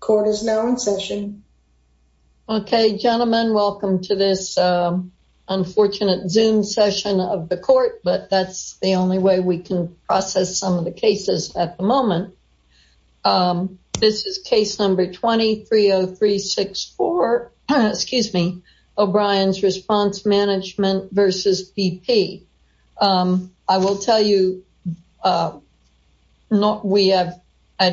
Court is now in session. Okay, gentlemen, welcome to this unfortunate zoom session of the court, but that's the only way we can process some of the cases at the moment. This is case number 230364, excuse me, O'Brien's Response Management v. BP. I will tell you, we have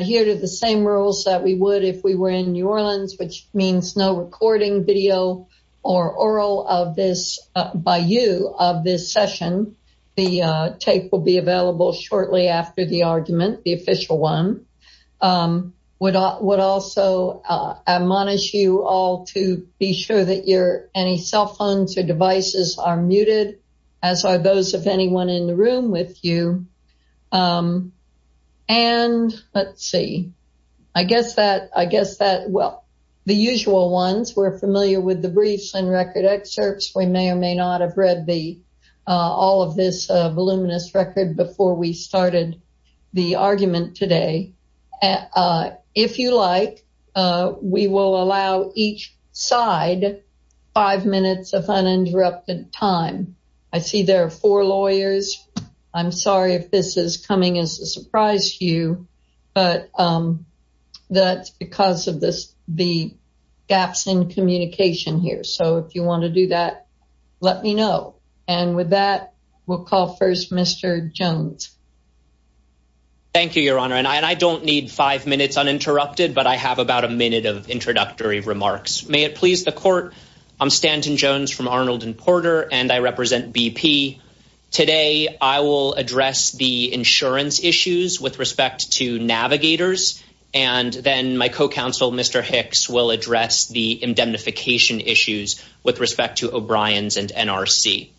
here to the same rules that we would if we were in New Orleans, which means no recording video or oral of this by you of this session. The tape will be available shortly after the argument, the official one would also admonish you all to be sure that your any cell phones or devices are muted, as are those of anyone in the room with you. And let's see, I guess that I guess that well, the usual ones we're familiar with the briefs and record excerpts, we may or may not have read the all of this voluminous record before we started the argument today. If you like, we will allow each side, five minutes of uninterrupted time. I see there are four lawyers. I'm sorry if this is coming as a surprise to you. But that's because of this the gaps in communication here. So if you want to do that, let me know. And with that, we'll call first Mr. Jones. Thank you, Your Honor, and I don't need five minutes uninterrupted. But I have about a minute of introductory remarks. May it please the court. I'm Stanton Jones from Arnold and Porter and I represent BP. Today, I will address the insurance issues with respect to navigators. And then my co counsel, Mr. Hicks will address the indemnification issues with respect to O'Brien's and NRC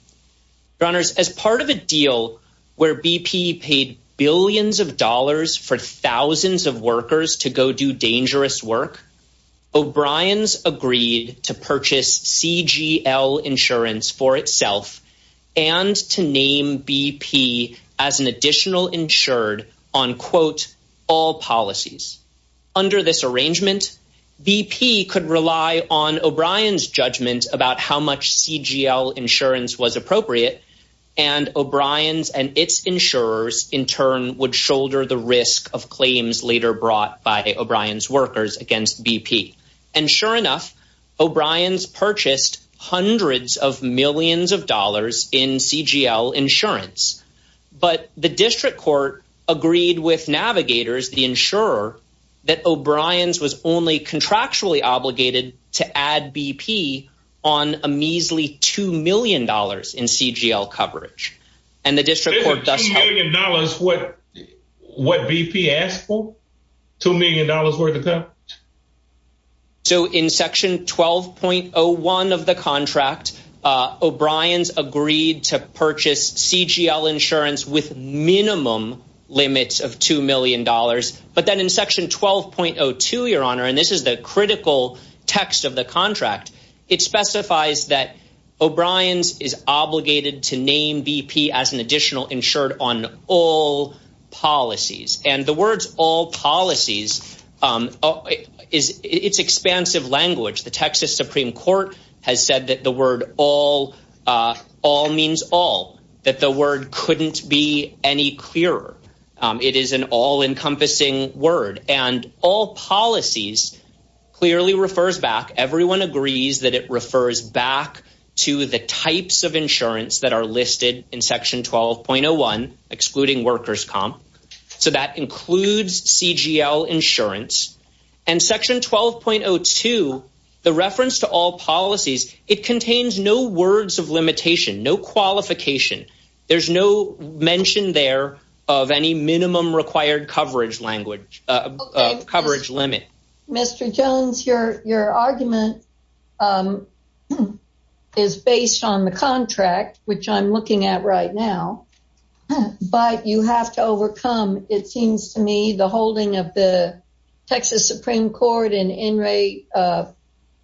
runners as part of a deal where BP paid billions of dollars for 1000s of workers to go do dangerous work. O'Brien's agreed to purchase CGL insurance for itself, and to name BP as an additional insured on quote, all policies. Under this arrangement, BP could rely on O'Brien's judgment about how much CGL insurance was appropriate. And O'Brien's and its insurers in turn would shoulder the risk of claims later brought by O'Brien's workers against BP. And sure enough, O'Brien's purchased hundreds of millions of dollars in CGL insurance. But the district court agreed with navigators the insurer that O'Brien's was only contractually obligated to add BP on a measly $2 million in CGL coverage. And the district court does acknowledge what what BP asked for $2 million worth of coverage. So in section 12.01 of the contract, O'Brien's agreed to purchase CGL insurance with minimum limits of $2 million. But then in section 12.02, Your Honor, and this is the critical text of the contract, it specifies that O'Brien's is additional insured on all policies and the words all policies is it's expansive language. The Texas Supreme Court has said that the word all all means all that the word couldn't be any clearer. It is an all encompassing word and all policies clearly refers back everyone agrees that it refers back to the types of insurance that are listed in section 12.01 excluding workers comp. So that includes CGL insurance and section 12.02. The reference to all policies, it contains no words of limitation, no qualification. There's no mention there of any minimum required coverage language coverage limit. Mr. Jones, your your argument is based on the contract, which I'm looking at right now. But you have to overcome it seems to me the holding of the Texas Supreme Court and in Ray,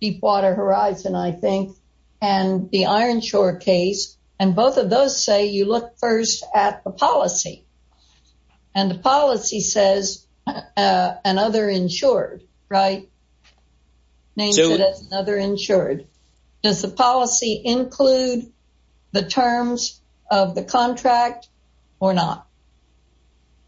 Deepwater Horizon, I think, and the Ironshore case, and both of those say you look first at the policy. And the policy says, another insured, right? Name another insured. Does the policy include the terms of the contract? Or not?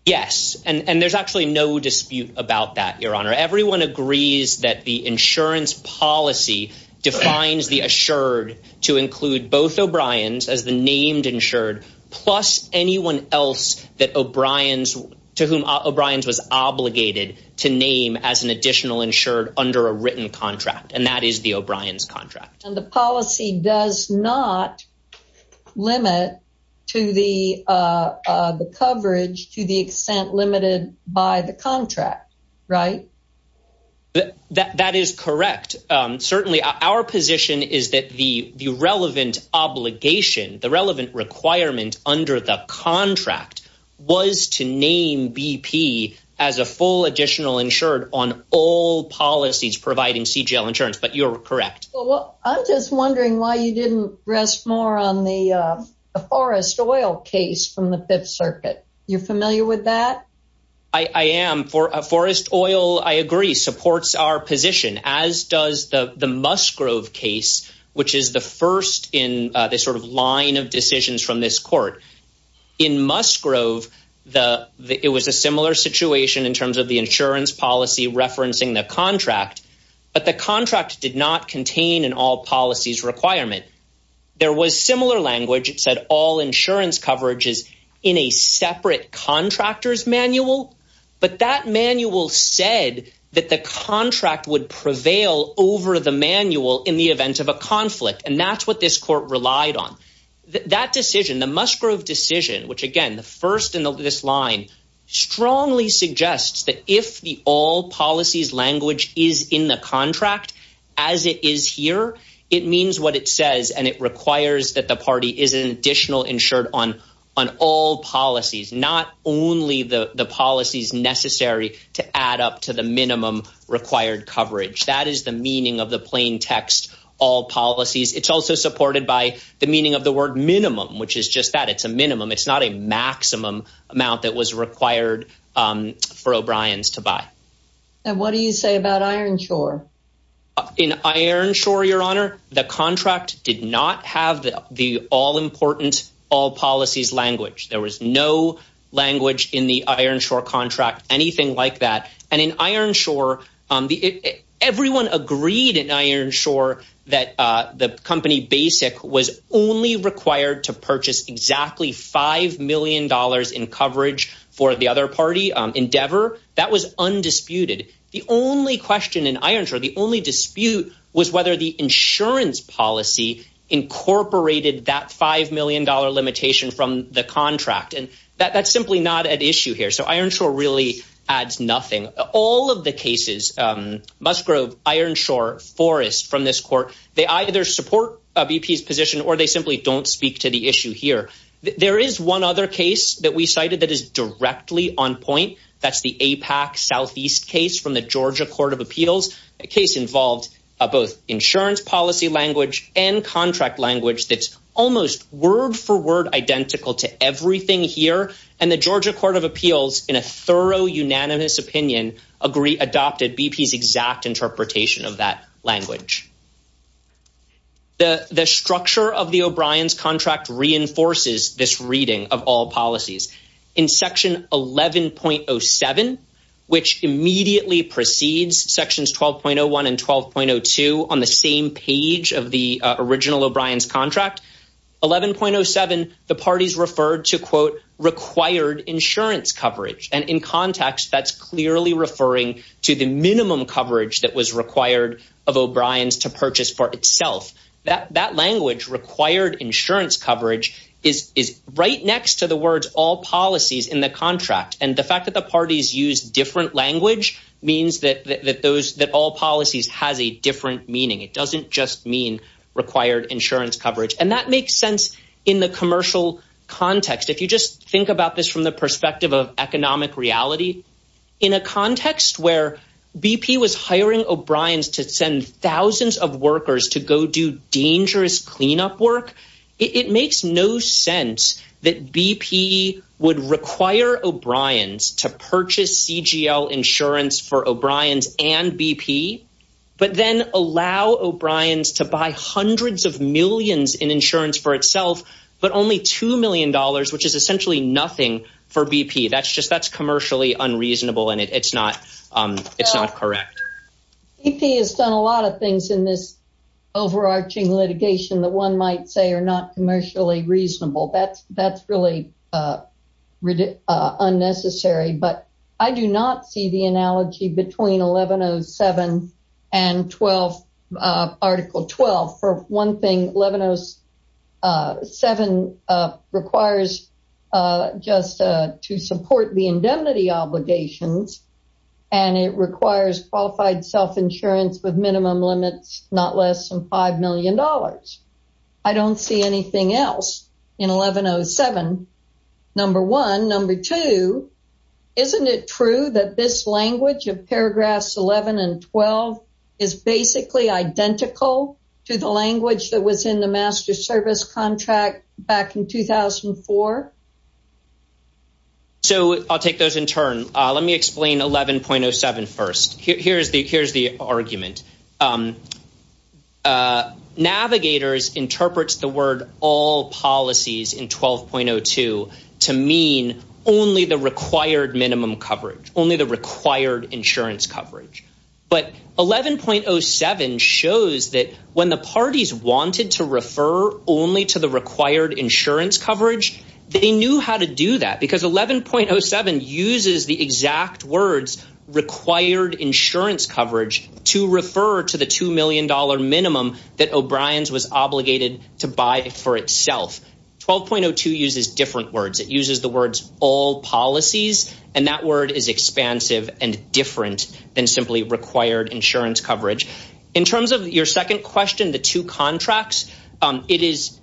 Yes. And there's actually no dispute about that, Your Honor, everyone agrees that the insurance policy defines the assured to include both O'Brien's as the named insured, plus anyone else that O'Brien's to whom O'Brien's was obligated to name as an additional insured under a written contract. And that is the O'Brien's contract. And the policy does not limit to the coverage to the extent limited by the contract, right? That is correct. Certainly, our position is that the relevant obligation, the relevant requirement under the contract was to name BP as a full additional insured on all policies providing CGL insurance, but you're correct. Well, I'm just wondering why you didn't rest more on the Forest Oil case from the Fifth Circuit. You're familiar with that? I am. Forest Oil, I agree, supports our position, as does the Musgrove case, which is the first in this sort of line of It was a similar situation in terms of the insurance policy referencing the contract, but the contract did not contain an all policies requirement. There was similar language, it said all insurance coverages in a separate contractors manual. But that manual said that the contract would prevail over the manual in the event of a conflict. And that's what this court relied on. That decision, the Musgrove decision, which again, the first in this line, strongly suggests that if the all policies language is in the contract, as it is here, it means what it says, and it requires that the party is an additional insured on on all policies, not only the policies necessary to add up to the minimum required coverage. That is the meaning of the plain text, all policies. It's also supported by the meaning of the word minimum, which is just that it's a minimum, it's not a maximum amount that was required for O'Brien's to buy. And what do you say about Ironshore? In Ironshore, Your Honor, the contract did not have the all important all policies language, there was no language in the Ironshore contract, anything like that. And in Ironshore, on the everyone agreed in Ironshore, that the company basic was only required to purchase exactly $5 million in coverage for the other party endeavor that was undisputed. The only question in Ironshore, the only dispute was whether the insurance policy incorporated that $5 million limitation from the contract. And that's simply not an issue here. So Ironshore really adds nothing. All of the cases, Musgrove, Ironshore, Forrest from this court, they either support BP's position, or they simply don't speak to the issue here. There is one other case that we cited that is directly on point. That's the APAC Southeast case from the Georgia Court of Appeals, a case involved both insurance policy language and contract language that's almost word for word identical to everything here. And the Georgia Court of Appeals in a thorough unanimous opinion, agree adopted BP's exact interpretation of that language. The structure of the O'Brien's contract reinforces this reading of all policies. In section 11.07, which immediately proceeds sections 12.01 and 12.02 on the same page of the original O'Brien's contract 11.07, the parties referred to quote, required insurance coverage. And in context, that's referring to the minimum coverage that was required of O'Brien's to purchase for itself, that that language required insurance coverage is right next to the words all policies in the contract. And the fact that the parties use different language means that those that all policies has a different meaning. It doesn't just mean required insurance coverage. And that makes sense. In the commercial context, if you just think about this from the perspective of economic reality, in a context where BP was hiring O'Brien's to send 1000s of workers to go do dangerous cleanup work, it makes no sense that BP would require O'Brien's to purchase CGL insurance for O'Brien's and BP, but then allow O'Brien's to buy hundreds of millions in insurance for itself, but only $2 million, which is essentially nothing for BP. That's just that's commercially unreasonable. And it's not. It's not correct. BP has done a lot of things in this overarching litigation that one might say are not commercially reasonable. That's that's really unnecessary, but I do not see the analogy between 1107 and 12. Article 12. For one thing, 1107 requires just to support the indemnity obligations. And it requires qualified self insurance with minimum limits, not less than $5 million. I don't see anything else in 1107. Number one, number two, isn't it true that this language of paragraphs 11 and 12 is basically identical to the language that was in the master service contract back in 2004. So I'll take those in turn. Let me explain 11.07. First, here's the here's the argument. Navigators interprets the word all policies in 12.02 to mean only the required minimum coverage only the required insurance coverage. But 11.07 shows that when the parties wanted to refer only to the required insurance coverage, they knew how to do that because 11.07 uses the exact words required insurance coverage to refer to the $2 million minimum that O'Brien's was obligated to buy for itself. 12.02 uses different words, it uses the words all policies. And that word is expansive and different than simply required insurance coverage. In terms of your second question, the two paragraphs 12.01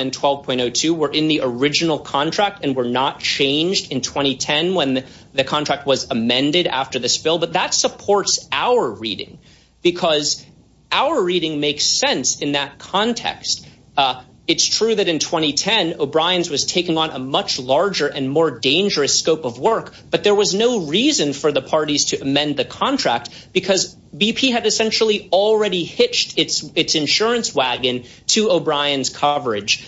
and 12.02 were in the original contract and were not changed in 2010. When the contract was amended after the spill, but that supports our reading, because our reading makes sense in that context. It's true that in 2010, O'Brien's was taking on a much larger and more dangerous scope of work. But there was no reason for the parties to amend the contract because BP had essentially already hitched its its coverage.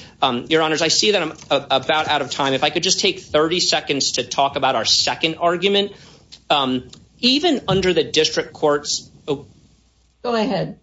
Your honors, I see that I'm about out of time, if I could just take 30 seconds to talk about our second argument. Even under the district courts. Oh, go ahead.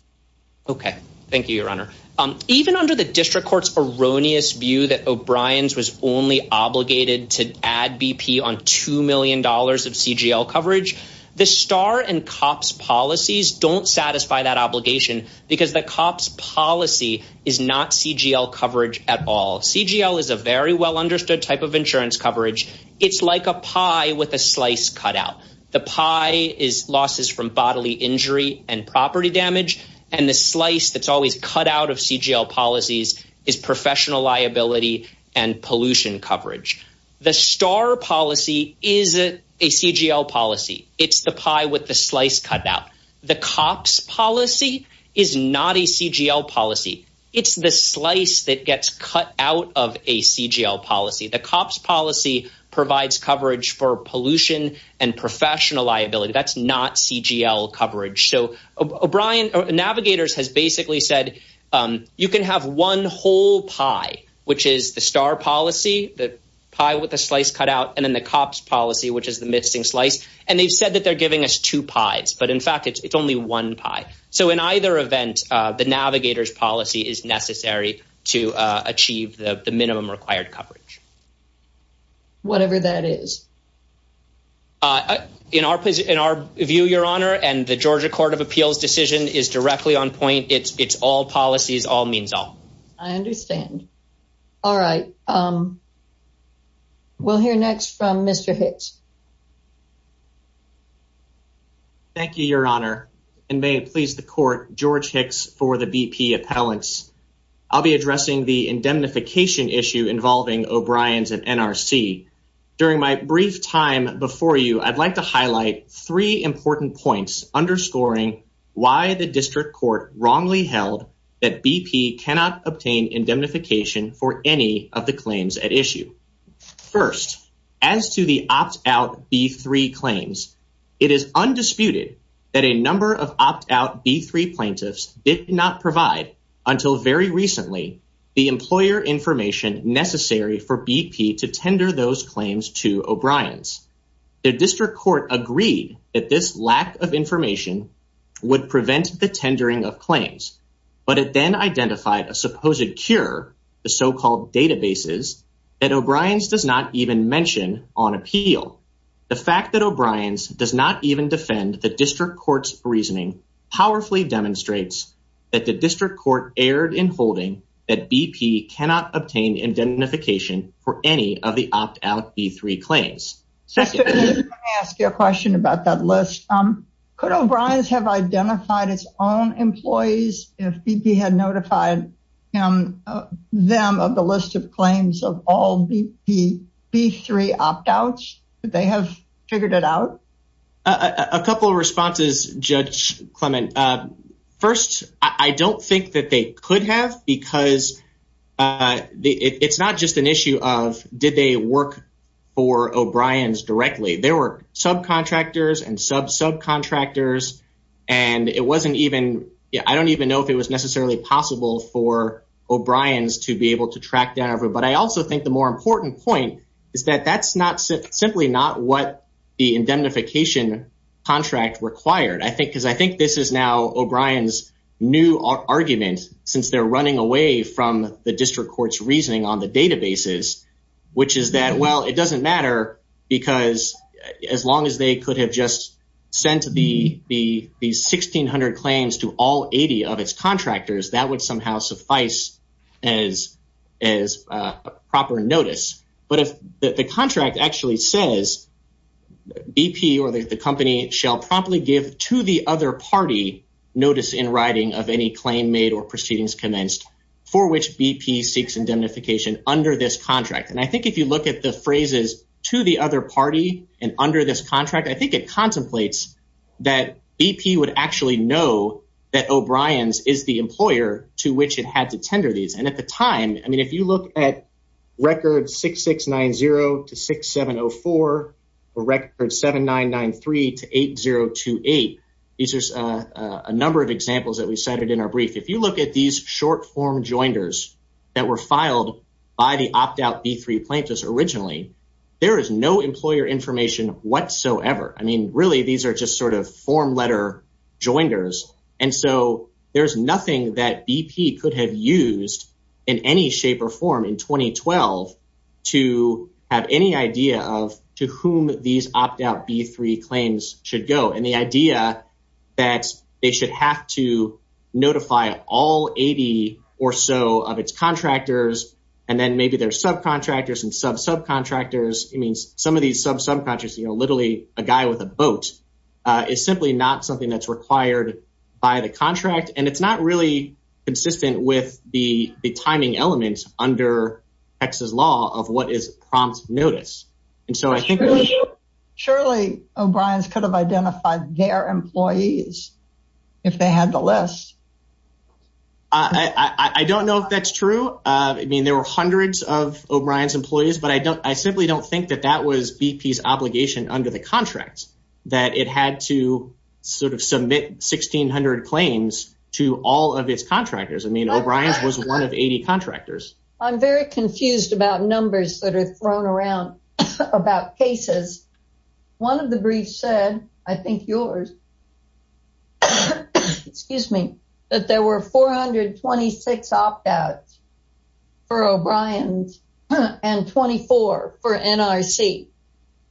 Okay. Thank you, Your Honor. Um, even under the district courts erroneous view that O'Brien's was only obligated to add BP on $2 million of CGL coverage, the star and cops policies don't satisfy that obligation because the cops policy is not CGL coverage at all. CGL is a very well understood type of insurance coverage. It's like a pie with a slice cut out. The pie is losses from bodily injury and property damage. And the slice that's always cut out of CGL policies is professional liability and pollution coverage. The star policy is a CGL policy. It's the pie with the slice cut out. The cops policy is not a CGL policy. It's the slice that gets cut out of a CGL policy. The cops policy provides coverage for pollution and professional liability. That's not CGL coverage. So O'Brien navigators has basically said, you can have one whole pie, which is the star policy, the pie with a slice cut out and then the cops policy, which is the missing slice. And they've said that they're giving us two pies. But in fact, it's only one pie. So in either event, the navigators policy is necessary to achieve the minimum required coverage. Whatever that is. In our in our view, Your Honor, and the Georgia Court of Appeals decision is directly on point. It's it's all policies all means all. I understand. All right. Um, we'll hear next from Mr. Hicks. Thank you, Your Honor. And may it please the court George Hicks for the BP appellants. I'll be addressing the indemnification issue involving O'Brien's and NRC. During my brief time before you, I'd like to highlight three important points underscoring why the district court wrongly held that BP cannot obtain indemnification for any of the claims at issue. First, as to opt out B3 claims, it is undisputed that a number of opt out B3 plaintiffs did not provide until very recently, the employer information necessary for BP to tender those claims to O'Brien's. The district court agreed that this lack of information would prevent the tendering of claims. But it then identified a supposed cure, the so called databases that O'Brien's does not even mention on appeal. The fact that O'Brien's does not even defend the district court's reasoning powerfully demonstrates that the district court erred in holding that BP cannot obtain indemnification for any of the opt out B3 claims. Second, let me ask you a question about that list. Um, could O'Brien's have identified its own employees if BP had notified them of the list of claims of all the B3 opt outs? Did they have figured it out? A couple of responses, Judge Clement. First, I don't think that they could have because it's not just an issue of did they work for O'Brien's directly. There were sub contractors and sub subcontractors. And it wasn't even I don't even know if it was necessarily possible for O'Brien's to be able to track down. But I also think the more important point is that that's not simply not what the indemnification contract required, I think, because I think this is now O'Brien's new argument, since they're running away from the district court's reasoning on the databases, which is that, well, it doesn't matter. Because as long as they could have just sent the the the 1600 claims to all 80 of its contractors, that would somehow suffice as, as proper notice. But if the contract actually says, BP or the company shall probably give to the other party notice in writing of any claim made or proceedings commenced, for which BP seeks indemnification under this contract. And I think if you look at the phrases to the other party, and under this contract, I think it contemplates that BP would actually know that O'Brien's is the employer to which it had to tender these. And at the time, I mean, if you look at record 6690 to 6704, or record 7993 to 8028, these are a number of examples that we cited in our brief, if you look at these short form jointers that were filed by the opt out B3 plaintiffs originally, there is no employer information whatsoever. I mean, really, these are just sort of form letter jointers. And so there's nothing that BP could have used in any shape or form in 2012. To have any idea of to whom these opt out B3 claims should go and the idea that they should have to notify all 80 or so of its contractors, and then maybe their subcontractors and sub contractors, it means some of these sub subcontractors, you know, literally a guy with a boat is simply not something that's required by the contract. And it's not really consistent with the timing elements under Texas law of what is prompt notice. And so I think surely, O'Brien's could have identified their employees, if they had the list. I don't know if that's true. I mean, there were hundreds of O'Brien's employees, but I don't I simply don't think that that was BP's obligation under the contract, that it had to sort of submit 1600 claims to all of its contractors. I mean, O'Brien's was one of 80 contractors. I'm very confused about numbers that are thrown around about cases. One of the briefs said, I think yours. Excuse me, that there were 426 opt outs for O'Brien's and 24 for NRC.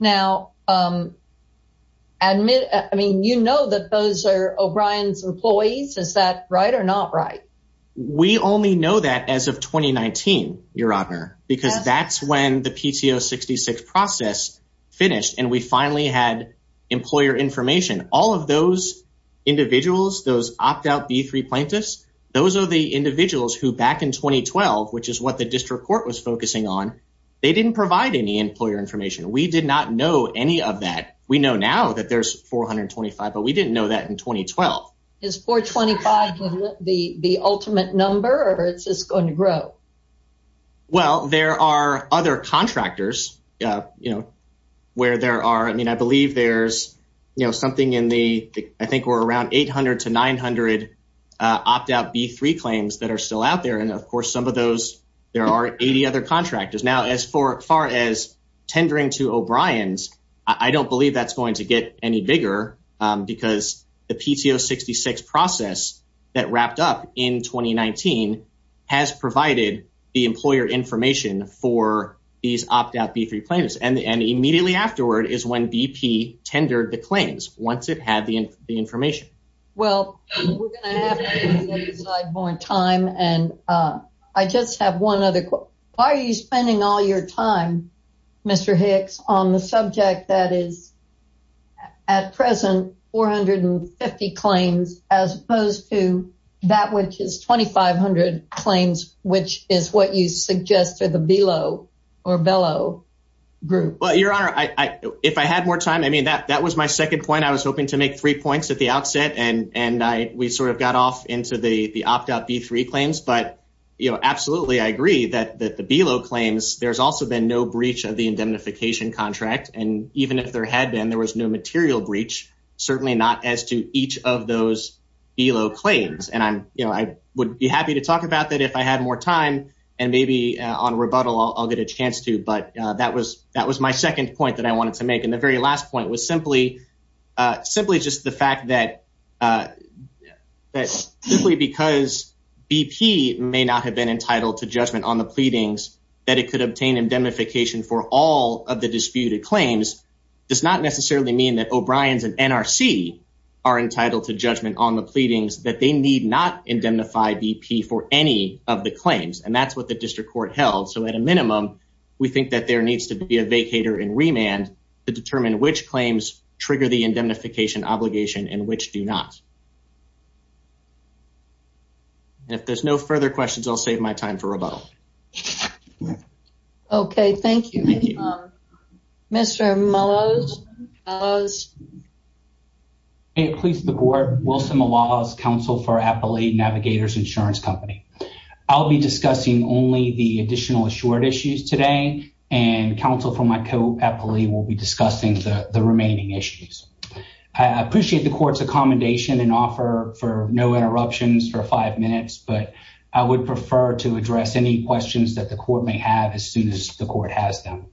Now, admit, I mean, you know that those are O'Brien's employees. Is that right or not right? We only know that as of 2019, your honor, because that's when the PTO 66 process finished, and we finally had employer information, all of those individuals, those opt out B3 plaintiffs, those are the individuals who back in 2012, which is what the district court was focusing on. They didn't provide any employer information. We did not know any of that. We know now that there's 425, but we didn't know that in 2012. Is 425 the the ultimate number or it's just going to grow? Well, there are other contractors, you know, where there are, I mean, I believe there's, you know, something in I think we're around 800 to 900 opt out B3 claims that are still out there. And of course, some of those, there are 80 other contractors. Now, as far as tendering to O'Brien's, I don't believe that's going to get any bigger, because the PTO 66 process that wrapped up in 2019, has provided the employer information for these opt out B3 plaintiffs. And immediately afterward is when BP tendered the claims once it had the information. Well, we're going to have more time and I just have one other question. Why are you spending all your time, Mr. Hicks on the subject that is at present 450 claims as opposed to that which is 2500 claims, which is what you suggest to the below or bellow group? Well, Your Honor, I if I had more time, I mean that that was my second point, I was hoping to make three points at the outset and and I we sort of got off into the the opt out B3 claims. But, you know, absolutely, I agree that that the below claims, there's also been no breach of the indemnification contract. And even if there had been, there was no material breach, certainly not as to each of those below claims. And I'm, you know, I would be happy to talk about that if I had more time, and maybe on rebuttal, I'll get a chance to but that that was my second point that I wanted to make. And the very last point was simply, simply just the fact that that simply because BP may not have been entitled to judgment on the pleadings, that it could obtain indemnification for all of the disputed claims does not necessarily mean that O'Brien's and NRC are entitled to judgment on the pleadings that they need not indemnify BP for any of the claims. And that's what the district court held. So at a minimum, we think that there needs to be a vacator and remand to determine which claims trigger the indemnification obligation and which do not. If there's no further questions, I'll save my time for rebuttal. Okay, thank you. Mr. Maloz. Hey, police, the board, Wilson Maloz, counsel for Appalachian Navigators Insurance Company. I'll be discussing only the remaining issues. I appreciate the court's accommodation and offer for no interruptions for five minutes, but I would prefer to address any questions that the court may have as soon as the court has them.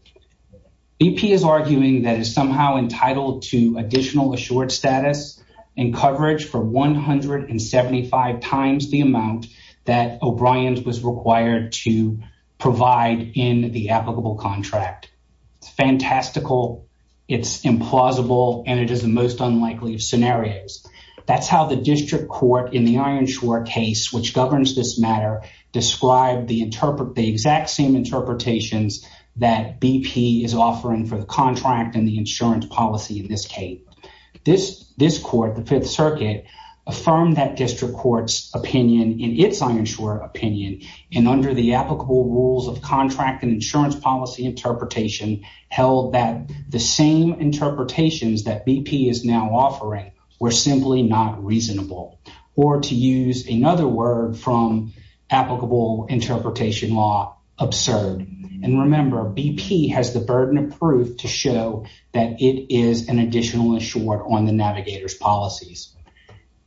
BP is arguing that is somehow entitled to additional assured status and coverage for 175 times the amount that O'Brien's was required to provide in the applicable contract. It's fantastical, it's implausible, and it is the most unlikely of scenarios. That's how the district court in the Ironshore case, which governs this matter, described the exact same interpretations that BP is offering for the contract and the insurance policy in this case. This court, the Fifth Circuit, affirmed that district court's opinion in its Ironshore opinion, and under the insurance policy interpretation, held that the same interpretations that BP is now offering were simply not reasonable, or to use another word from applicable interpretation law, absurd. And remember, BP has the burden of proof to show that it is an additional assured on the navigators policies.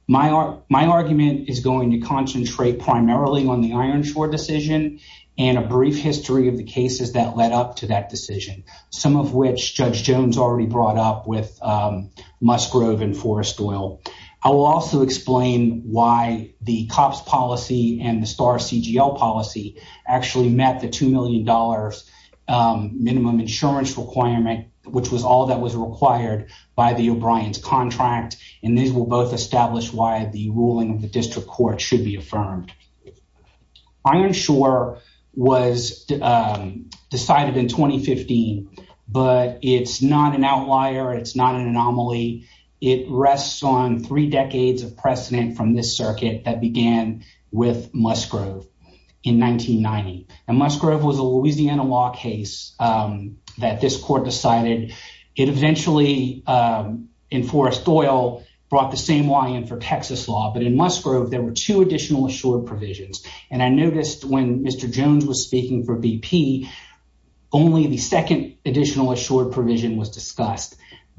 My argument is going to concentrate primarily on the Ironshore decision and a brief history of the cases that led up to that decision, some of which Judge Jones already brought up with Musgrove and Forest Oil. I will also explain why the COPS policy and the STAR-CGL policy actually met the $2 million minimum insurance requirement, which was all that was required by the O'Brien's contract. And these will both establish why the ruling of the district court should be affirmed. Ironshore was decided in 2015. But it's not an outlier. It's not an anomaly. It rests on three decades of precedent from this circuit that began with Musgrove in 1990. And Musgrove was a Louisiana law case that this court decided. It eventually, and Forest Oil brought the same line in for Texas law. But in Musgrove, there were two additional assured provisions. And I noticed when Mr. Jones was speaking for BP, only the second additional assured provision was discussed.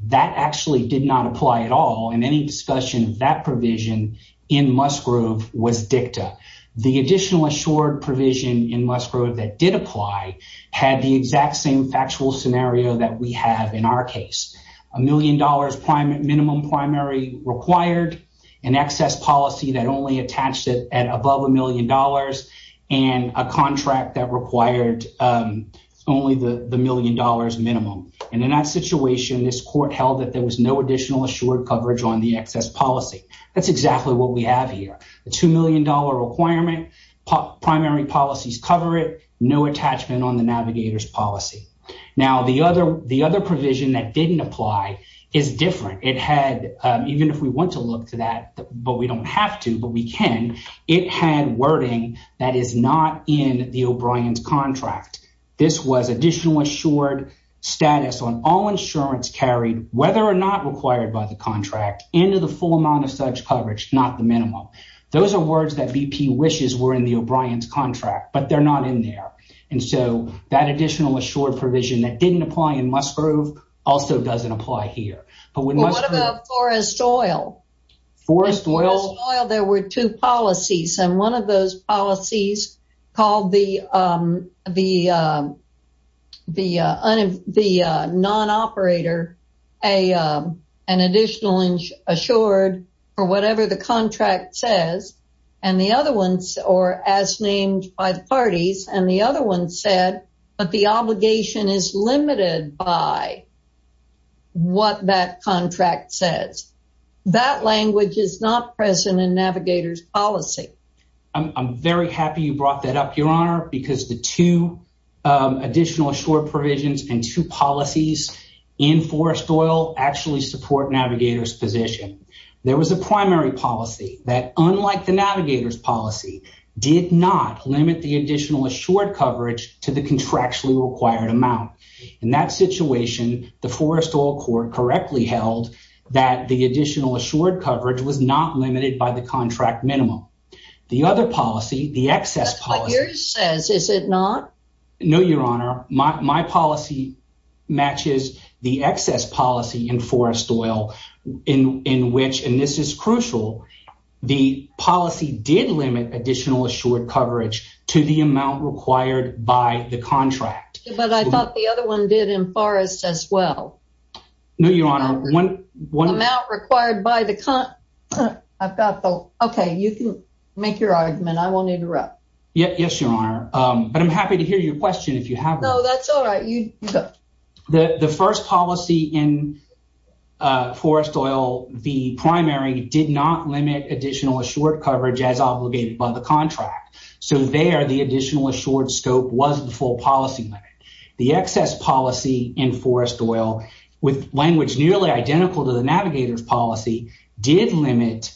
That actually did not apply at all. And any discussion of that provision in Musgrove was dicta. The additional assured provision in Musgrove that did apply had the exact same factual scenario that we have in our case. A million dollars minimum primary required an excess policy that only attached it at above a million dollars, and a contract that required only the million dollars minimum. And in that situation, this court held that there was no additional assured coverage on the excess policy. That's exactly what we have here, a $2 million requirement, primary policies cover it, no attachment on the navigators policy. Now the other the other provision that didn't apply is different. It had even if we want to look to that, but we don't have to, but we can. It had wording that is not in the O'Brien's contract. This was additional assured status on all insurance carried whether or not required by the contract into the full amount of such coverage, not the minimum. Those are words that BP wishes were in the O'Brien's contract, but they're not in there. And so that additional assured provision that didn't apply in Musgrove also doesn't apply here. But what about forest oil? Forest oil, there were two policies and one of those policies called the non operator, an additional insured or whatever the contract says, and the other ones are as named by the parties and the other one said, but the obligation is limited by what that contract says. That language is not present in navigators policy. I'm very happy you brought that up, Your Honor, because the two additional short provisions and two policies in forest oil actually support navigators position. There was a primary policy that unlike the navigators policy did not limit the additional assured coverage to the contractually required amount. In that situation, the forest oil court correctly held that the additional assured coverage was not limited by the contract minimum. The other policy, the excess policy says, is it not? No, Your Honor, my policy matches the excess policy in forest oil in which and this is crucial. The policy did limit additional assured coverage to the amount required by the contract. But I thought the other one did in forest as well. No, Your Honor, one amount required by the contract. Okay, you can make your argument. I won't interrupt. Yes, Your Honor. But I'm happy to hear your question if you have. No, that's all right. The first policy in forest oil, the additional assured scope was the full policy limit. The excess policy in forest oil, with language nearly identical to the navigators policy, did limit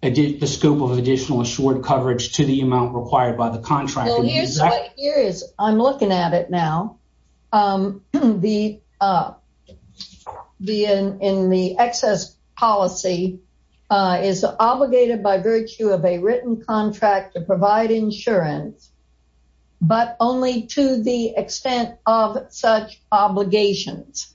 the scope of additional assured coverage to the amount required by the contract. I'm looking at it now. The excess policy is obligated by virtue of a contract to provide insurance, but only to the extent of such obligations.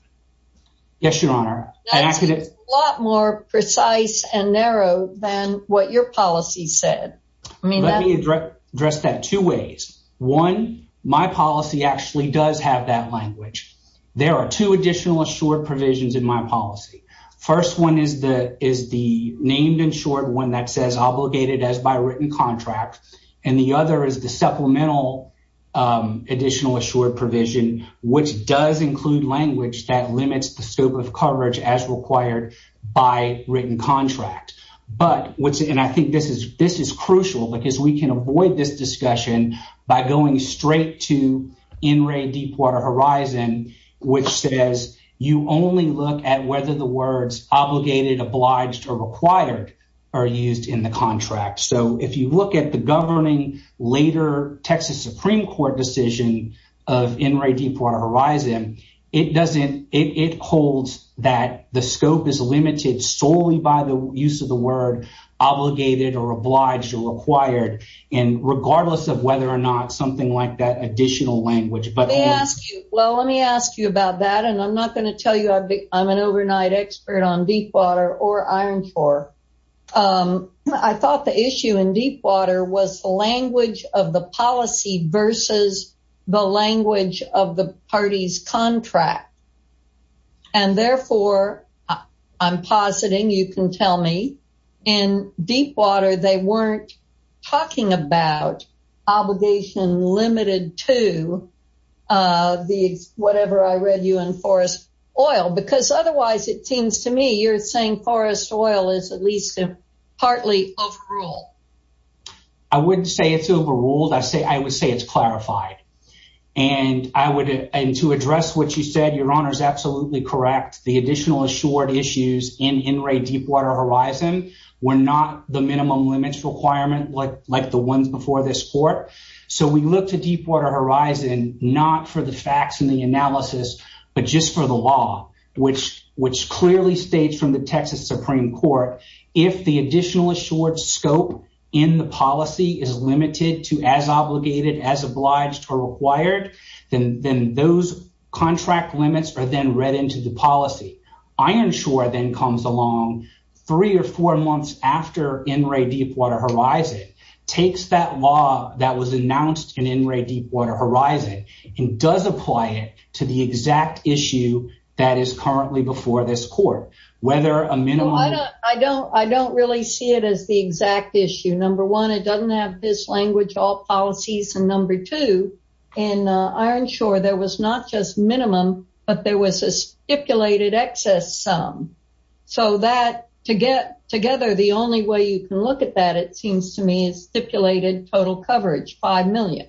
Yes, Your Honor. That's a lot more precise and narrow than what your policy said. Let me address that two ways. One, my policy actually does have that language. There are two additional assured provisions in my policy. First one is the named and short one that says obligated as by written contract. The other is the supplemental additional assured provision, which does include language that limits the scope of coverage as required by written contract. I think this is crucial because we can avoid this discussion by going straight to NRA Deepwater Horizon, which says you only look at whether the words obligated, obliged, or required are used in the contract. If you look at the governing later Texas Supreme Court decision of NRA Deepwater Horizon, it holds that the scope is limited solely by the use of the word obligated, or obliged, or required, regardless of whether or not something like that additional language. Well, let me ask you about that. I'm not going to tell you I'm an overnight expert on Deepwater or Irontor. I thought the issue in Deepwater was the language of the policy versus the language of the party's contract. And therefore, I'm positing you can tell me in Deepwater, they weren't talking about obligation limited to the whatever I read you in Forest Oil because otherwise, it seems to me you're saying Forest Oil is at least partly overruled. I wouldn't say it's overruled. I would say it's clarified. And to address what you said, Your Honor is absolutely correct. The additional assured issues in NRA Deepwater Horizon were not the minimum limits requirement like the ones before this court. So we look to Deepwater Horizon, not for the facts and the which clearly states from the Texas Supreme Court, if the additional assured scope in the policy is limited to as obligated as obliged or required, then those contract limits are then read into the policy. Ironshore then comes along three or four months after NRA Deepwater Horizon takes that law that was announced in NRA Deepwater Horizon and does apply to the exact issue that is currently before this court, whether a minimum... I don't really see it as the exact issue. Number one, it doesn't have this language, all policies. And number two, in Ironshore, there was not just minimum, but there was a stipulated excess sum. So that together, the only way you can look at that, it seems to me is stipulated total coverage, 5 million.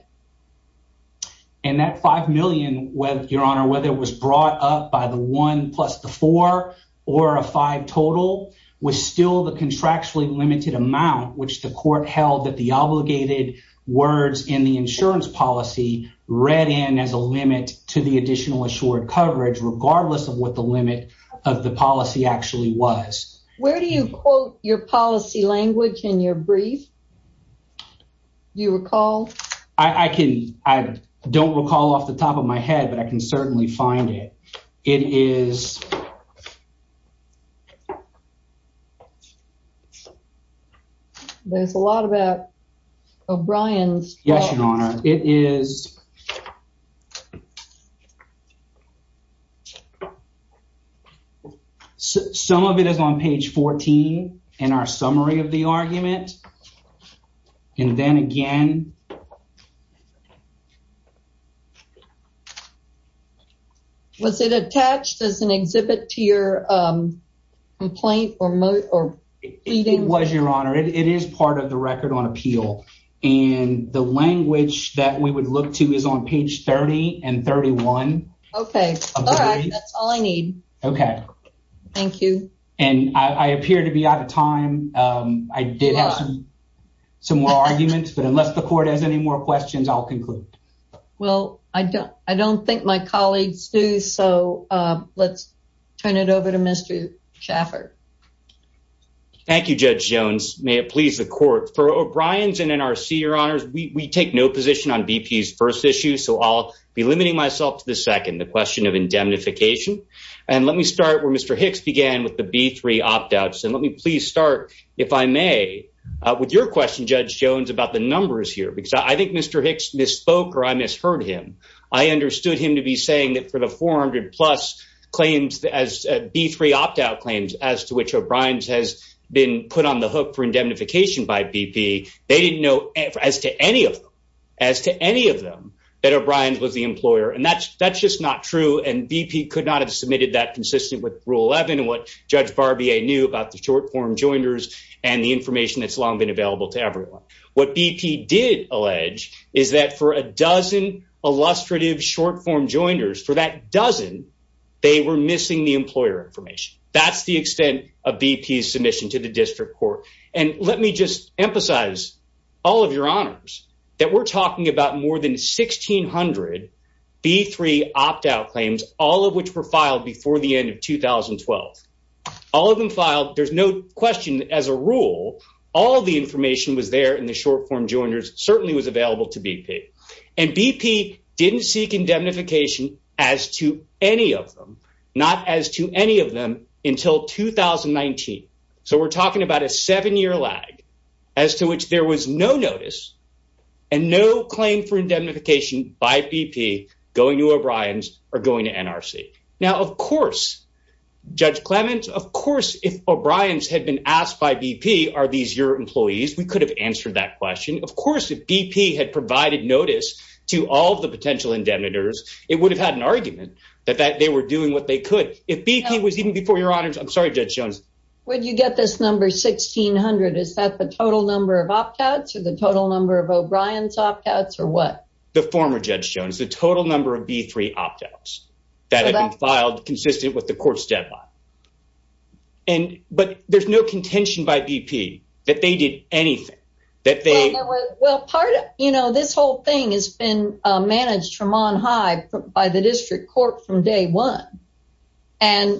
And that 5 million, whether it was brought up by the one plus the four, or a five total, was still the contractually limited amount, which the court held that the obligated words in the insurance policy read in as a limit to the additional assured coverage, regardless of what the limit of the policy actually was. Where do you quote your policy language in your brief? Do you recall? I don't recall off the top of my head, but I can certainly find it. It is... There's a lot about O'Brien's... Yes, Your Honor. Some of it is on page 14 in our summary of the report. Was it attached as an exhibit to your complaint or... It was, Your Honor. It is part of the record on appeal. And the language that we would look to is on page 30 and 31. Okay. All right. That's all I need. Okay. Thank you. And I appear to be out of time. I did have some more arguments, but unless the court has any more questions, I'll conclude. Well, I don't think my colleagues do. So let's turn it over to Mr. Schaffer. Thank you, Judge Jones. May it please the court. For O'Brien's and NRC, Your Honors, we take no position on BP's first issue. So I'll be limiting myself to the second, the question of indemnification. And let me start where Mr. Hicks began with the B3 opt-outs. And let me please start, if I may, with your question, Judge Jones, about the numbers here. Because I think Mr. Hicks misspoke or I misheard him. I understood him to be saying that for the 400-plus claims as B3 opt-out claims as to which O'Brien's has been put on the hook for indemnification by BP, they didn't know as to any of them, as to any of them, that O'Brien's was the employer. And that's just not true. And BP could not have submitted that consistent with Rule 11 and what Judge Barbier knew about the short-form joiners and the information that's long been available to everyone. What BP did allege is that for a dozen illustrative short-form joiners, for that dozen, they were missing the employer information. That's the extent of BP's submission to the district court. And let me just emphasize, all of Your Honors, that we're talking about more than 1,600 B3 opt-out claims, all of which were filed before the end of 2012. All of them filed, there's no question as a to BP. And BP didn't seek indemnification as to any of them, not as to any of them until 2019. So we're talking about a seven-year lag as to which there was no notice and no claim for indemnification by BP going to O'Brien's or going to NRC. Now, of course, Judge Clement, of course, if O'Brien's had been asked by BP, are these your employees? We could have answered that question. Of course, if BP had provided notice to all the potential indemnitors, it would have had an argument that they were doing what they could. If BP was even before Your Honors, I'm sorry, Judge Jones. When you get this number 1,600, is that the total number of opt-outs or the total number of O'Brien's opt-outs or what? The former Judge Jones, the total number of B3 opt-outs that there's no contention by BP that they did anything, that they... Well, part of, you know, this whole thing has been managed from on high by the district court from day one. And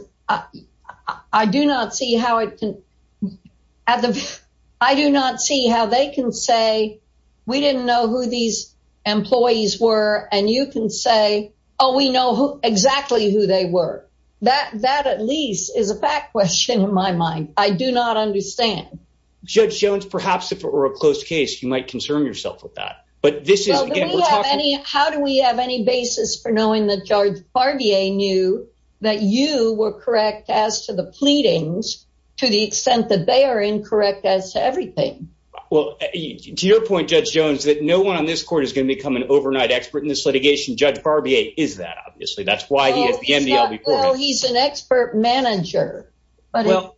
I do not see how it can...I do not see how they can say, we didn't know who these employees were. And you can say, oh, we know who exactly who they were. That at least is a fact question in my mind. I do not understand. Judge Jones, perhaps if it were a closed case, you might concern yourself with that. But this is... How do we have any basis for knowing that Judge Barbier knew that you were correct as to the pleadings, to the extent that they are incorrect as to everything? Well, to your point, Judge Jones, that no one on this court is going to become an overnight expert in this litigation. Judge Barbier is that, obviously. That's why he at the NBL before me... He's an expert manager. But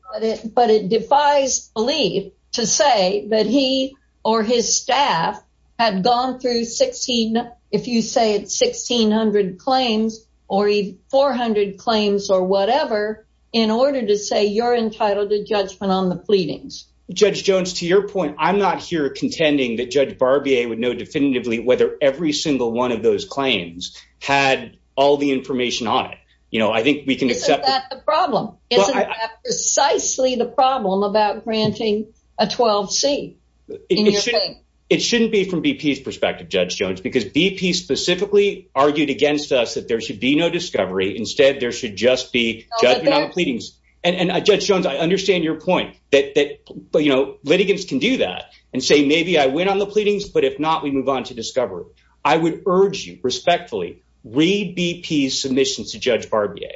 it defies belief to say that he or his staff had gone through 16, if you say it's 1600 claims, or 400 claims or whatever, in order to say you're entitled to judgment on the pleadings. Judge Jones, to your point, I'm not here contending that Judge Barbier would know definitively whether every single one of those claims had all the information on it. You know, I think we can accept... Isn't that the problem? Isn't that precisely the problem about granting a 12C? It shouldn't be from BP's perspective, Judge Jones, because BP specifically argued against us that there should be no discovery. Instead, there should just be judgment on the pleadings. And Judge Jones, I understand your point that, you know, litigants can do that and say, maybe I win on the pleadings, but if not, we move on to discovery. I would urge respectfully, read BP's submissions to Judge Barbier.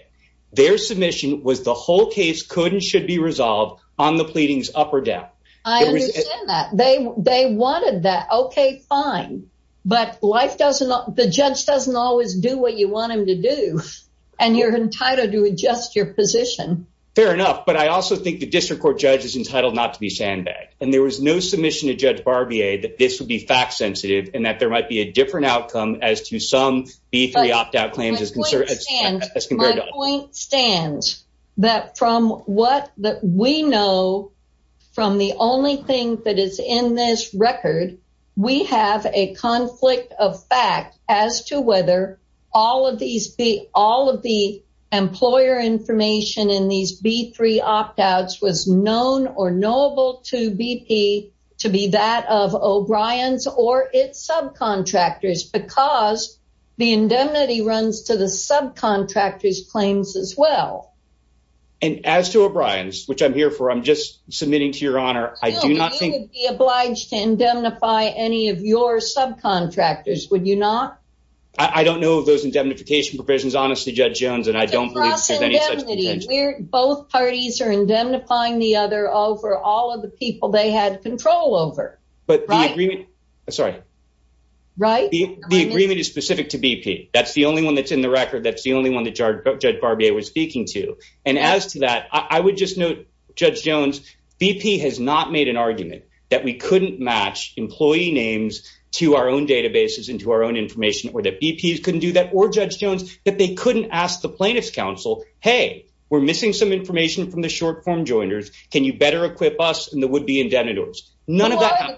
Their submission was the whole case could and should be resolved on the pleadings up or down. I understand that. They wanted that. Okay, fine. But life doesn't... the judge doesn't always do what you want him to do. And you're entitled to adjust your position. Fair enough. But I also think the district court judge is entitled not to be sandbagged. And there was no submission to Judge Barbier that this would be fact sensitive, and that there might be a different outcome as to some B3 opt-out claims as considered... My point stands that from what that we know, from the only thing that is in this record, we have a conflict of fact as to whether all of these be all of the employer information in these B3 opt-outs was known or knowable to BP to be that of O'Brien's or its subcontractors because the indemnity runs to the subcontractors claims as well. And as to O'Brien's, which I'm here for, I'm just submitting to your honor, I do not think... You would be obliged to indemnify any of your subcontractors, would you not? I don't know those indemnification provisions, honestly, Judge Jones, and I don't believe there's any such intention. We're both parties are indemnifying the other over all of the people they had control over. But the agreement is specific to BP. That's the only one that's in the record. That's the only one that Judge Barbier was speaking to. And as to that, I would just note, Judge Jones, BP has not made an argument that we couldn't match employee names to our own databases and to our own information or that BPs couldn't do that or Judge Jones, that they couldn't ask the plaintiff's counsel, hey, we're missing some information from the short-form joiners. Can you better equip us and the would-be indemnitors? None of that.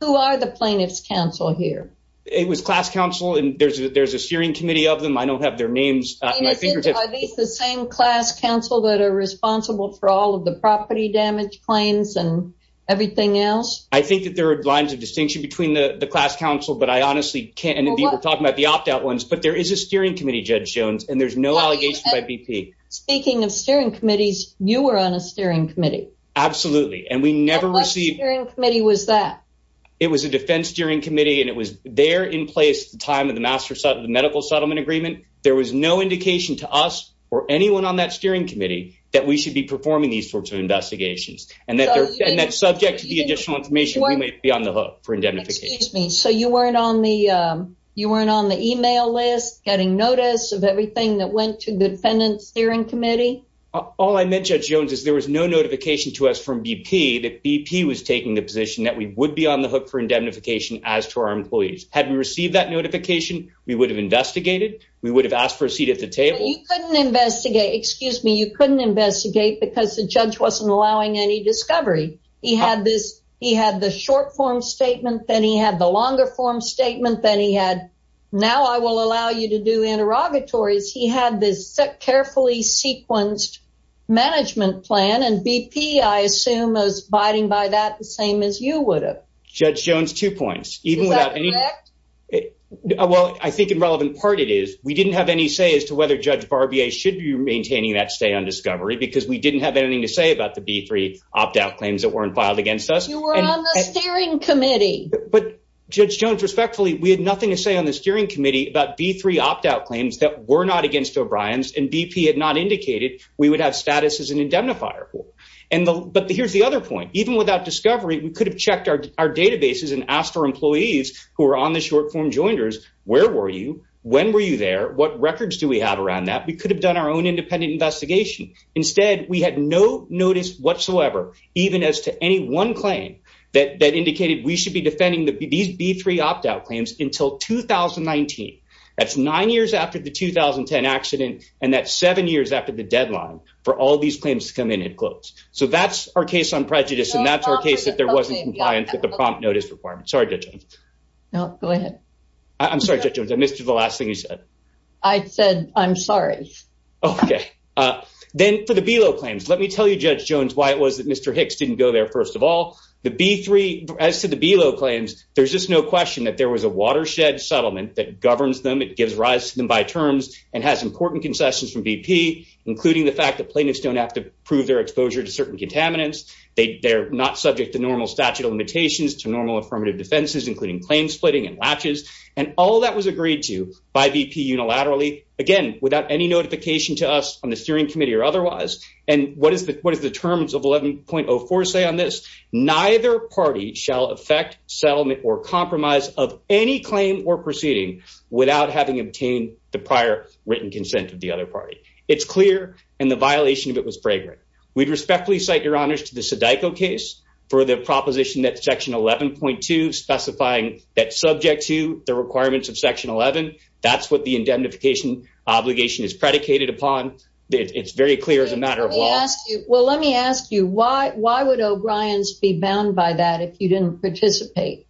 Who are the plaintiff's counsel here? It was class counsel. And there's a steering committee of them. I don't have their names on my fingertips. Are these the same class counsel that are responsible for all of the property damage claims and everything else? I think that there are lines of distinction between the class counsel, but I honestly can't be able to talk about the opt-out ones, but there is a steering committee, Judge Jones, and there's no allegation by BP. Speaking of steering committees, you were on a steering committee. Absolutely. And we never received... What steering committee was that? It was a defense steering committee, and it was there in place at the time of the medical settlement agreement. There was no indication to us or anyone on that steering committee that we should be performing these sorts of investigations and that's subject to the additional information we might be on the hook for indemnification. Excuse me. So you weren't on the email list, getting notice of everything that went to the defendant's steering committee? All I meant, Judge Jones, is there was no notification to us from BP that BP was taking the position that we would be on the hook for indemnification as to our employees. Had we received that notification, we would have investigated. We would have asked for a seat at the table. You couldn't investigate. Excuse me. You couldn't investigate because the judge wasn't allowing any discovery. He had the short form statement, then he had the longer form statement, then he had, now I will allow you to do interrogatories. He had this carefully sequenced management plan. And BP, I assume, is abiding by that the same as you would have. Judge Jones, two points. Even without any. Well, I think in relevant part, it is. We didn't have any say as to whether Judge Barbier should be maintaining that stay on discovery because we didn't have anything to say about the B3 opt out claims that weren't filed against us. You were on the steering committee. But Judge Jones, respectfully, we had nothing to say on the steering committee about B3 opt out claims that were not against O'Brien's and BP had not indicated we would have status as an indemnifier. And but here's the other point. Even without discovery, we could have checked our databases and asked our employees who were on the short form joiners. Where were you? When were you there? What records do we have around that? We could have done our own independent investigation. Instead, we had no notice whatsoever, even as to any one claim that indicated we should be defending these B3 opt out claims until 2019. That's nine years after the 2010 accident. And that's seven years after the deadline for all these claims to come in and close. So that's our case on prejudice. And that's our case that there wasn't compliance with the prompt notice requirement. Sorry, Judge Jones. No, go ahead. I'm sorry, Judge Jones. I missed you the last thing you said. I said, I'm sorry. Okay. Then for the below claims, let me tell you, Judge Jones, why it was that Mr. Hicks didn't go there. First of all, the B3 as to the below claims, there's just no question that there was a watershed settlement that governs them. It gives rise to them by terms and has important concessions from BP, including the fact that plaintiffs don't have to prove their exposure to certain contaminants. They're not subject to normal statute of limitations to normal affirmative defenses, including claim splitting and latches. And all that was agreed to by BP unilaterally. Again, without any notification to us on the steering committee or otherwise. And what is the terms of 11.04 say on this? Neither party shall affect settlement or compromise of any claim or proceeding without having obtained the prior written consent of the other party. It's clear. And the violation of it was fragrant. We'd respectfully cite your honors to the Sedico case for the proposition that section 11.2 specifying that subject to the requirements of section 11. That's what the indemnification obligation is predicated upon. It's very clear as a matter of law. Well, let me ask you why, why would O'Brien's be bound by that if you didn't participate?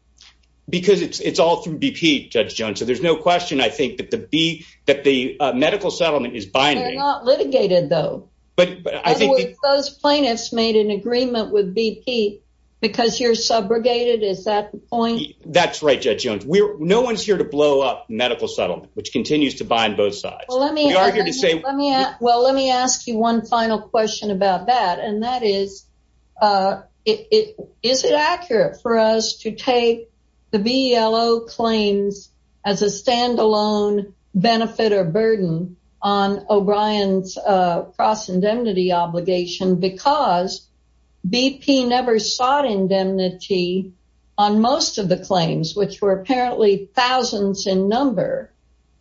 Because it's, it's all through BP judge Jones. So there's no question, I think, that the B that the medical settlement is binding, not litigated, though. But I think those plaintiffs made an agreement with BP because you're subrogated. Is that the point? That's right. Judge Jones, no one's here to blow up medical settlement, which continues to bind both sides. Let me argue to say, well, let me ask you one final question about that. And that is, is it accurate for us to take the VLO claims as a standalone benefit or burden on O'Brien's cross-indemnity obligation? Because BP never sought indemnity on most of the claims, which were apparently thousands in number,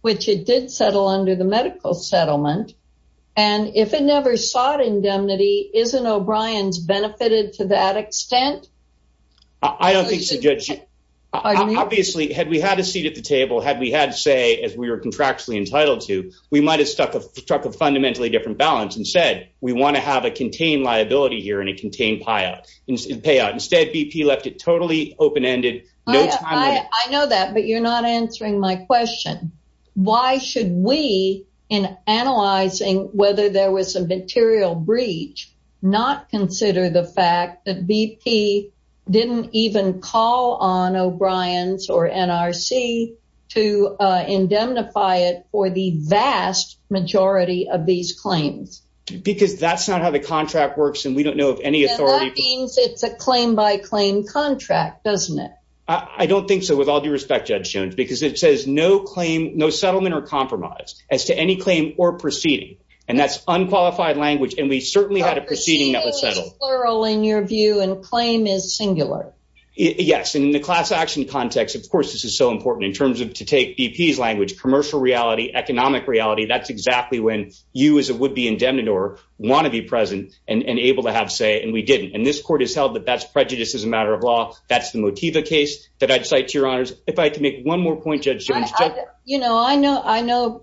which it did settle under the medical settlement. And if it never sought indemnity, isn't O'Brien's benefited to that extent? I don't think so, judge. Obviously, had we had a seat at the table, had we had to say, as we were contractually entitled to, we might have struck a fundamentally different balance and said, we want to have a contained liability here and a contained payout. Instead, BP left it totally open-ended, no time limit. I know that, but you're not answering my question. Why should we, in analyzing whether there was a material breach, not consider the fact that BP didn't even call on O'Brien's or NRC to indemnify it for the vast majority of these claims? Because that's not how the contract works, and we don't know of any authority. And that means it's a claim by claim contract, doesn't it? I don't think so, with all due respect, Judge Jones, because it says no claim, no settlement or compromise as to any claim or proceeding. And that's unqualified language. And we certainly had a proceeding that was settled. Plural in your view, and claim is singular. Yes, in the class action context, of course, this is so important in terms of, to take BP's language, commercial reality, economic reality, that's exactly when you, as a would-be indemnitor, want to be present and able to have say, and we didn't. And this court has held that that's prejudiced as a matter of law. That's the Motiva case that I'd cite to your honors. If I could make one more point, Judge Jones. You know, I know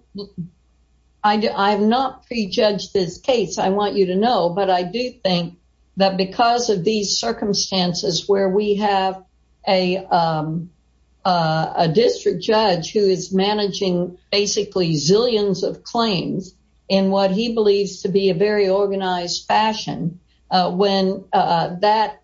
I've not prejudged this case. I want you to know, but I do think that because of these circumstances where we have a district judge who is managing basically zillions of claims in what he believes to be a very organized fashion, when that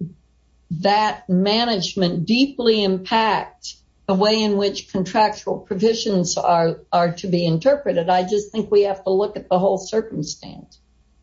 management deeply impact the way in which contractual provisions are to be interpreted, I just think we have to look at the whole circumstance.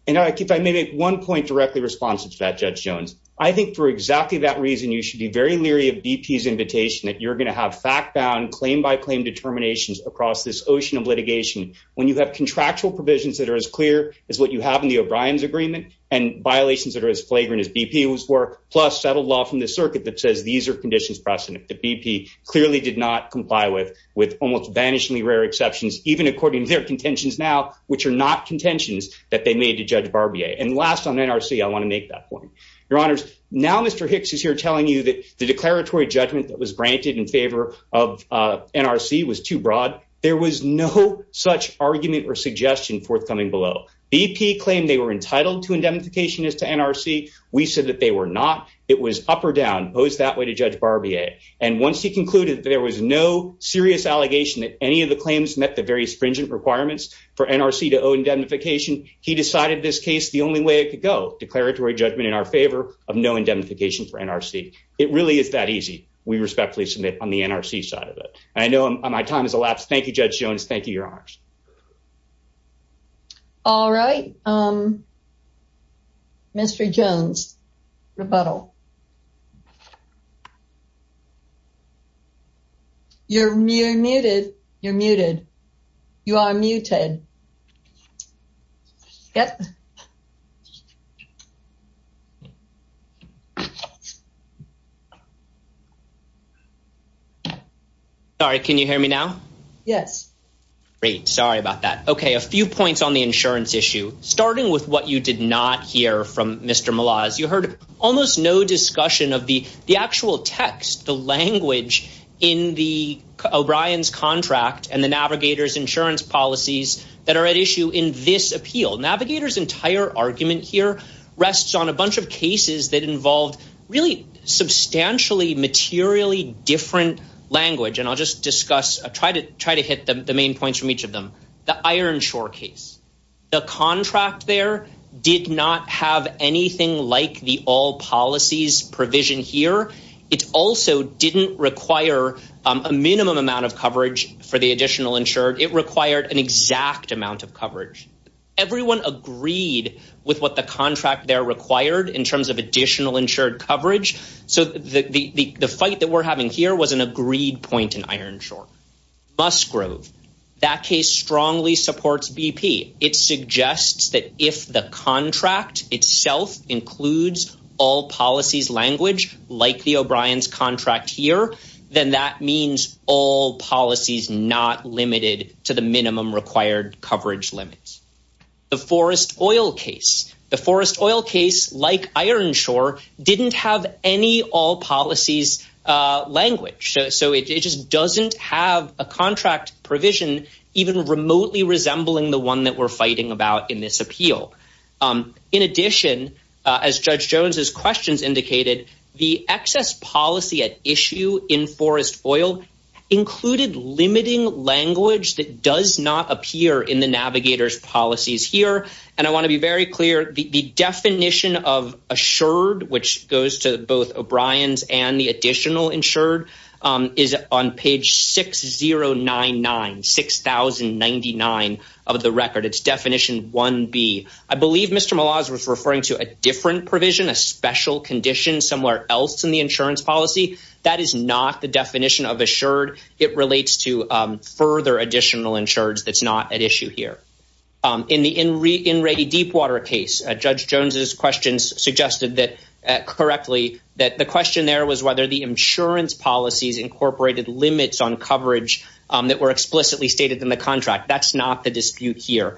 And if I may make one point directly responsive to that, Judge Jones. I think for exactly that reason, you should be very leery of BP's invitation that you're gonna have fact-bound, claim-by-claim determinations across this ocean of litigation. When you have contractual provisions that are as clear as what you have in the O'Brien's agreement and violations that are as flagrant as BP was for, plus settled law from the circuit that says these are conditions precedent that BP clearly did not comply with, with almost vanishingly rare exceptions, even according to their contentions now, which are not contentions that they made to Judge Barbier. And last on NRC, I wanna make that point. Your honors, now Mr. Hicks is here telling you that the declaratory judgment that was granted in favor of NRC was too broad. There was no such argument or suggestion forthcoming below. BP claimed they were entitled to indemnification as to NRC. We said that they were not. It was up or down, posed that way to Judge Barbier. And once he concluded that there was no serious allegation that any of the claims met the various stringent requirements for NRC to owe indemnification, he decided this case the only way it could go, declaratory judgment in our favor of no indemnification for NRC. It really is that easy. We respectfully submit on the NRC side of it. I know my time has elapsed. Thank you, Judge Jones. Thank you, your honors. All right, Mr. Jones, rebuttal. You're muted, you're muted, you are muted. Yep. Sorry, can you hear me now? Yes. Great, sorry about that. Okay, a few points on the insurance issue. Starting with what you did not hear from Mr. Malaz, you heard almost no discussion of the actual text, the language in the O'Brien's contract and the Navigator's insurance policies that are at issue in this appeal. Navigator's entire argument here rests on a bunch of cases that involved really substantially materially different language. And I'll just discuss, try to hit the main points from each of them. The Ironshore case. The contract there did not have anything like the all policies provision here. It also didn't require a minimum amount of coverage for the additional insured. It required an exact amount of coverage. Everyone agreed with what the contract there required in terms of additional insured coverage. So the fight that we're having here was an agreed point in Ironshore. Musgrove, that case strongly supports BP. It suggests that if the contract itself, includes all policies language, like the O'Brien's contract here, then that means all policies not limited to the minimum required coverage limits. The Forest Oil case. The Forest Oil case like Ironshore didn't have any all policies language. So it just doesn't have a contract provision even remotely resembling the one that we're fighting about in this appeal. In addition, as Judge Jones's questions indicated, the excess policy at issue in Forest Oil included limiting language that does not appear in the navigators policies here. And I wanna be very clear, the definition of assured, which goes to both O'Brien's and the additional insured is on page 6099, 6,099 of the record. It's definition 1B. I believe Mr. Malazzo was referring to a different provision, a special condition somewhere else in the insurance policy. That is not the definition of assured. It relates to further additional insured that's not at issue here. In the in Reedy Deepwater case, Judge Jones's questions suggested that correctly, that the question there was whether the insurance policies incorporated limits on coverage that were explicitly stated in the contract. That's not the dispute here.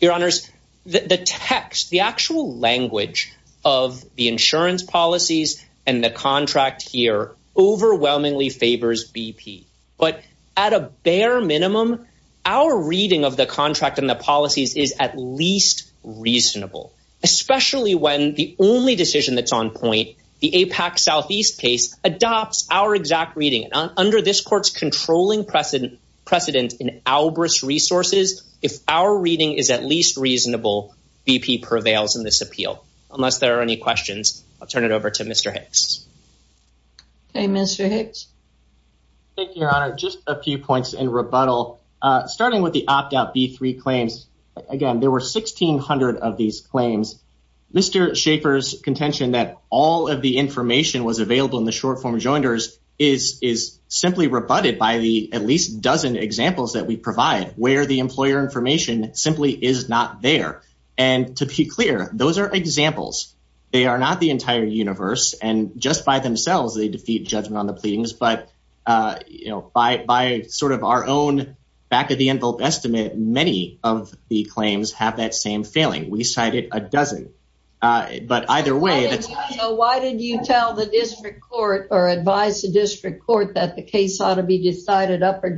Your honors, the text, the actual language of the insurance policies and the contract here overwhelmingly favors BP, but at a bare minimum, our reading of the contract and the policies is at least reasonable, especially when the only decision that's on point, the AIPAC Southeast case adopts our exact reading and under this court's controlling precedent in ALBRIS resources, if our reading is at least reasonable, BP prevails in this appeal. Unless there are any questions, I'll turn it over to Mr. Hicks. Okay, Mr. Hicks. Thank you, your honor. Just a few points in rebuttal. Starting with the opt out B3 claims, again, there were 1600 of these claims. Mr. Schaefer's contention that all of the information was available in the short form joinders is simply rebutted by the at least dozen examples that we provide where the employer information simply is not there. And to be clear, those are examples. They are not the entire universe. And just by themselves, they defeat judgment on the pleadings, but by sort of our own back of the envelope estimate, many of the claims have that same failing. We cited a dozen, but either way- So why did you tell the district court or advise the district court that the case ought to be decided up or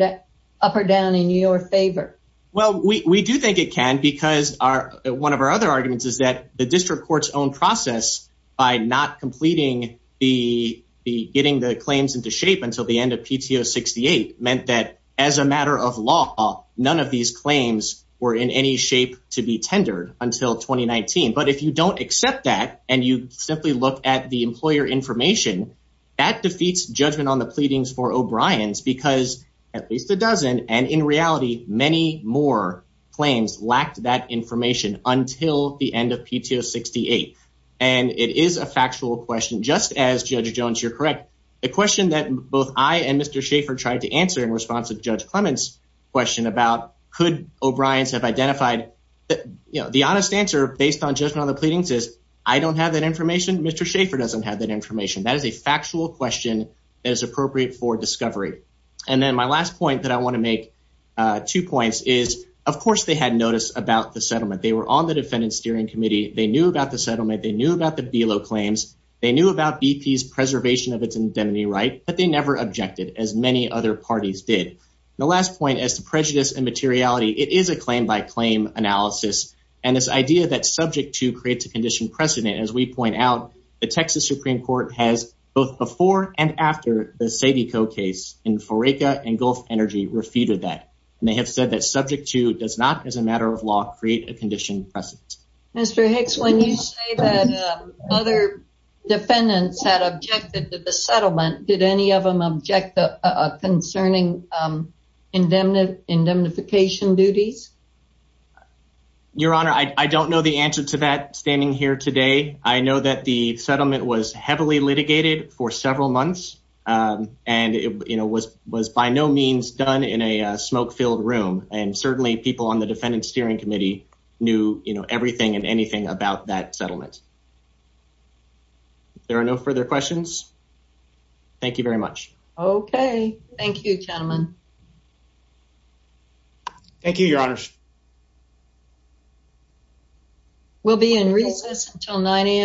down in your favor? Well, we do think it can because one of our other arguments is that the district court's own process by not completing the getting the claims into shape until the end of PTO 68, meant that as a matter of law, none of these claims were in any shape to be tendered until 2019. But if you don't accept that and you simply look at the employer information, that defeats judgment on the pleadings for O'Brien's because at least a dozen, and in reality, many more claims lacked that information until the end of PTO 68. And it is a factual question, just as Judge Jones, you're correct. The question that both I and Mr. Schaefer tried to answer in response to Judge Clement's question about could O'Brien's have identified... The honest answer based on judgment on the pleadings is I don't have that information. Mr. Schaefer doesn't have that information. That is a factual question that is appropriate for discovery. And then my last point that I wanna make two points is of course they had noticed about the settlement. They were on the defendant's steering committee. They knew about the settlement. They knew about the below claims. They knew about BP's preservation of its indemnity right, but they never objected as many other parties did. The last point as to prejudice and materiality, it is a claim by claim analysis. And this idea that subject to creates a condition precedent. As we point out, the Texas Supreme Court has both before and after the Sadie Coe case in Foreca and Gulf Energy refuted that. And they have said that subject to does not as a matter of law create a condition precedent. Mr. Hicks, when you say that other defendants had objected to the settlement, did any of them object concerning indemnification duties? Your Honor, I don't know the answer to that standing here today. I know that the settlement was heavily litigated for several months and it was by no means done in a smoke-filled room. And certainly people on the defendant's steering committee knew everything and anything about that settlement. If there are no further questions, thank you very much. Okay, thank you gentlemen. Thank you, Your Honor. We'll be in recess until 9 a.m.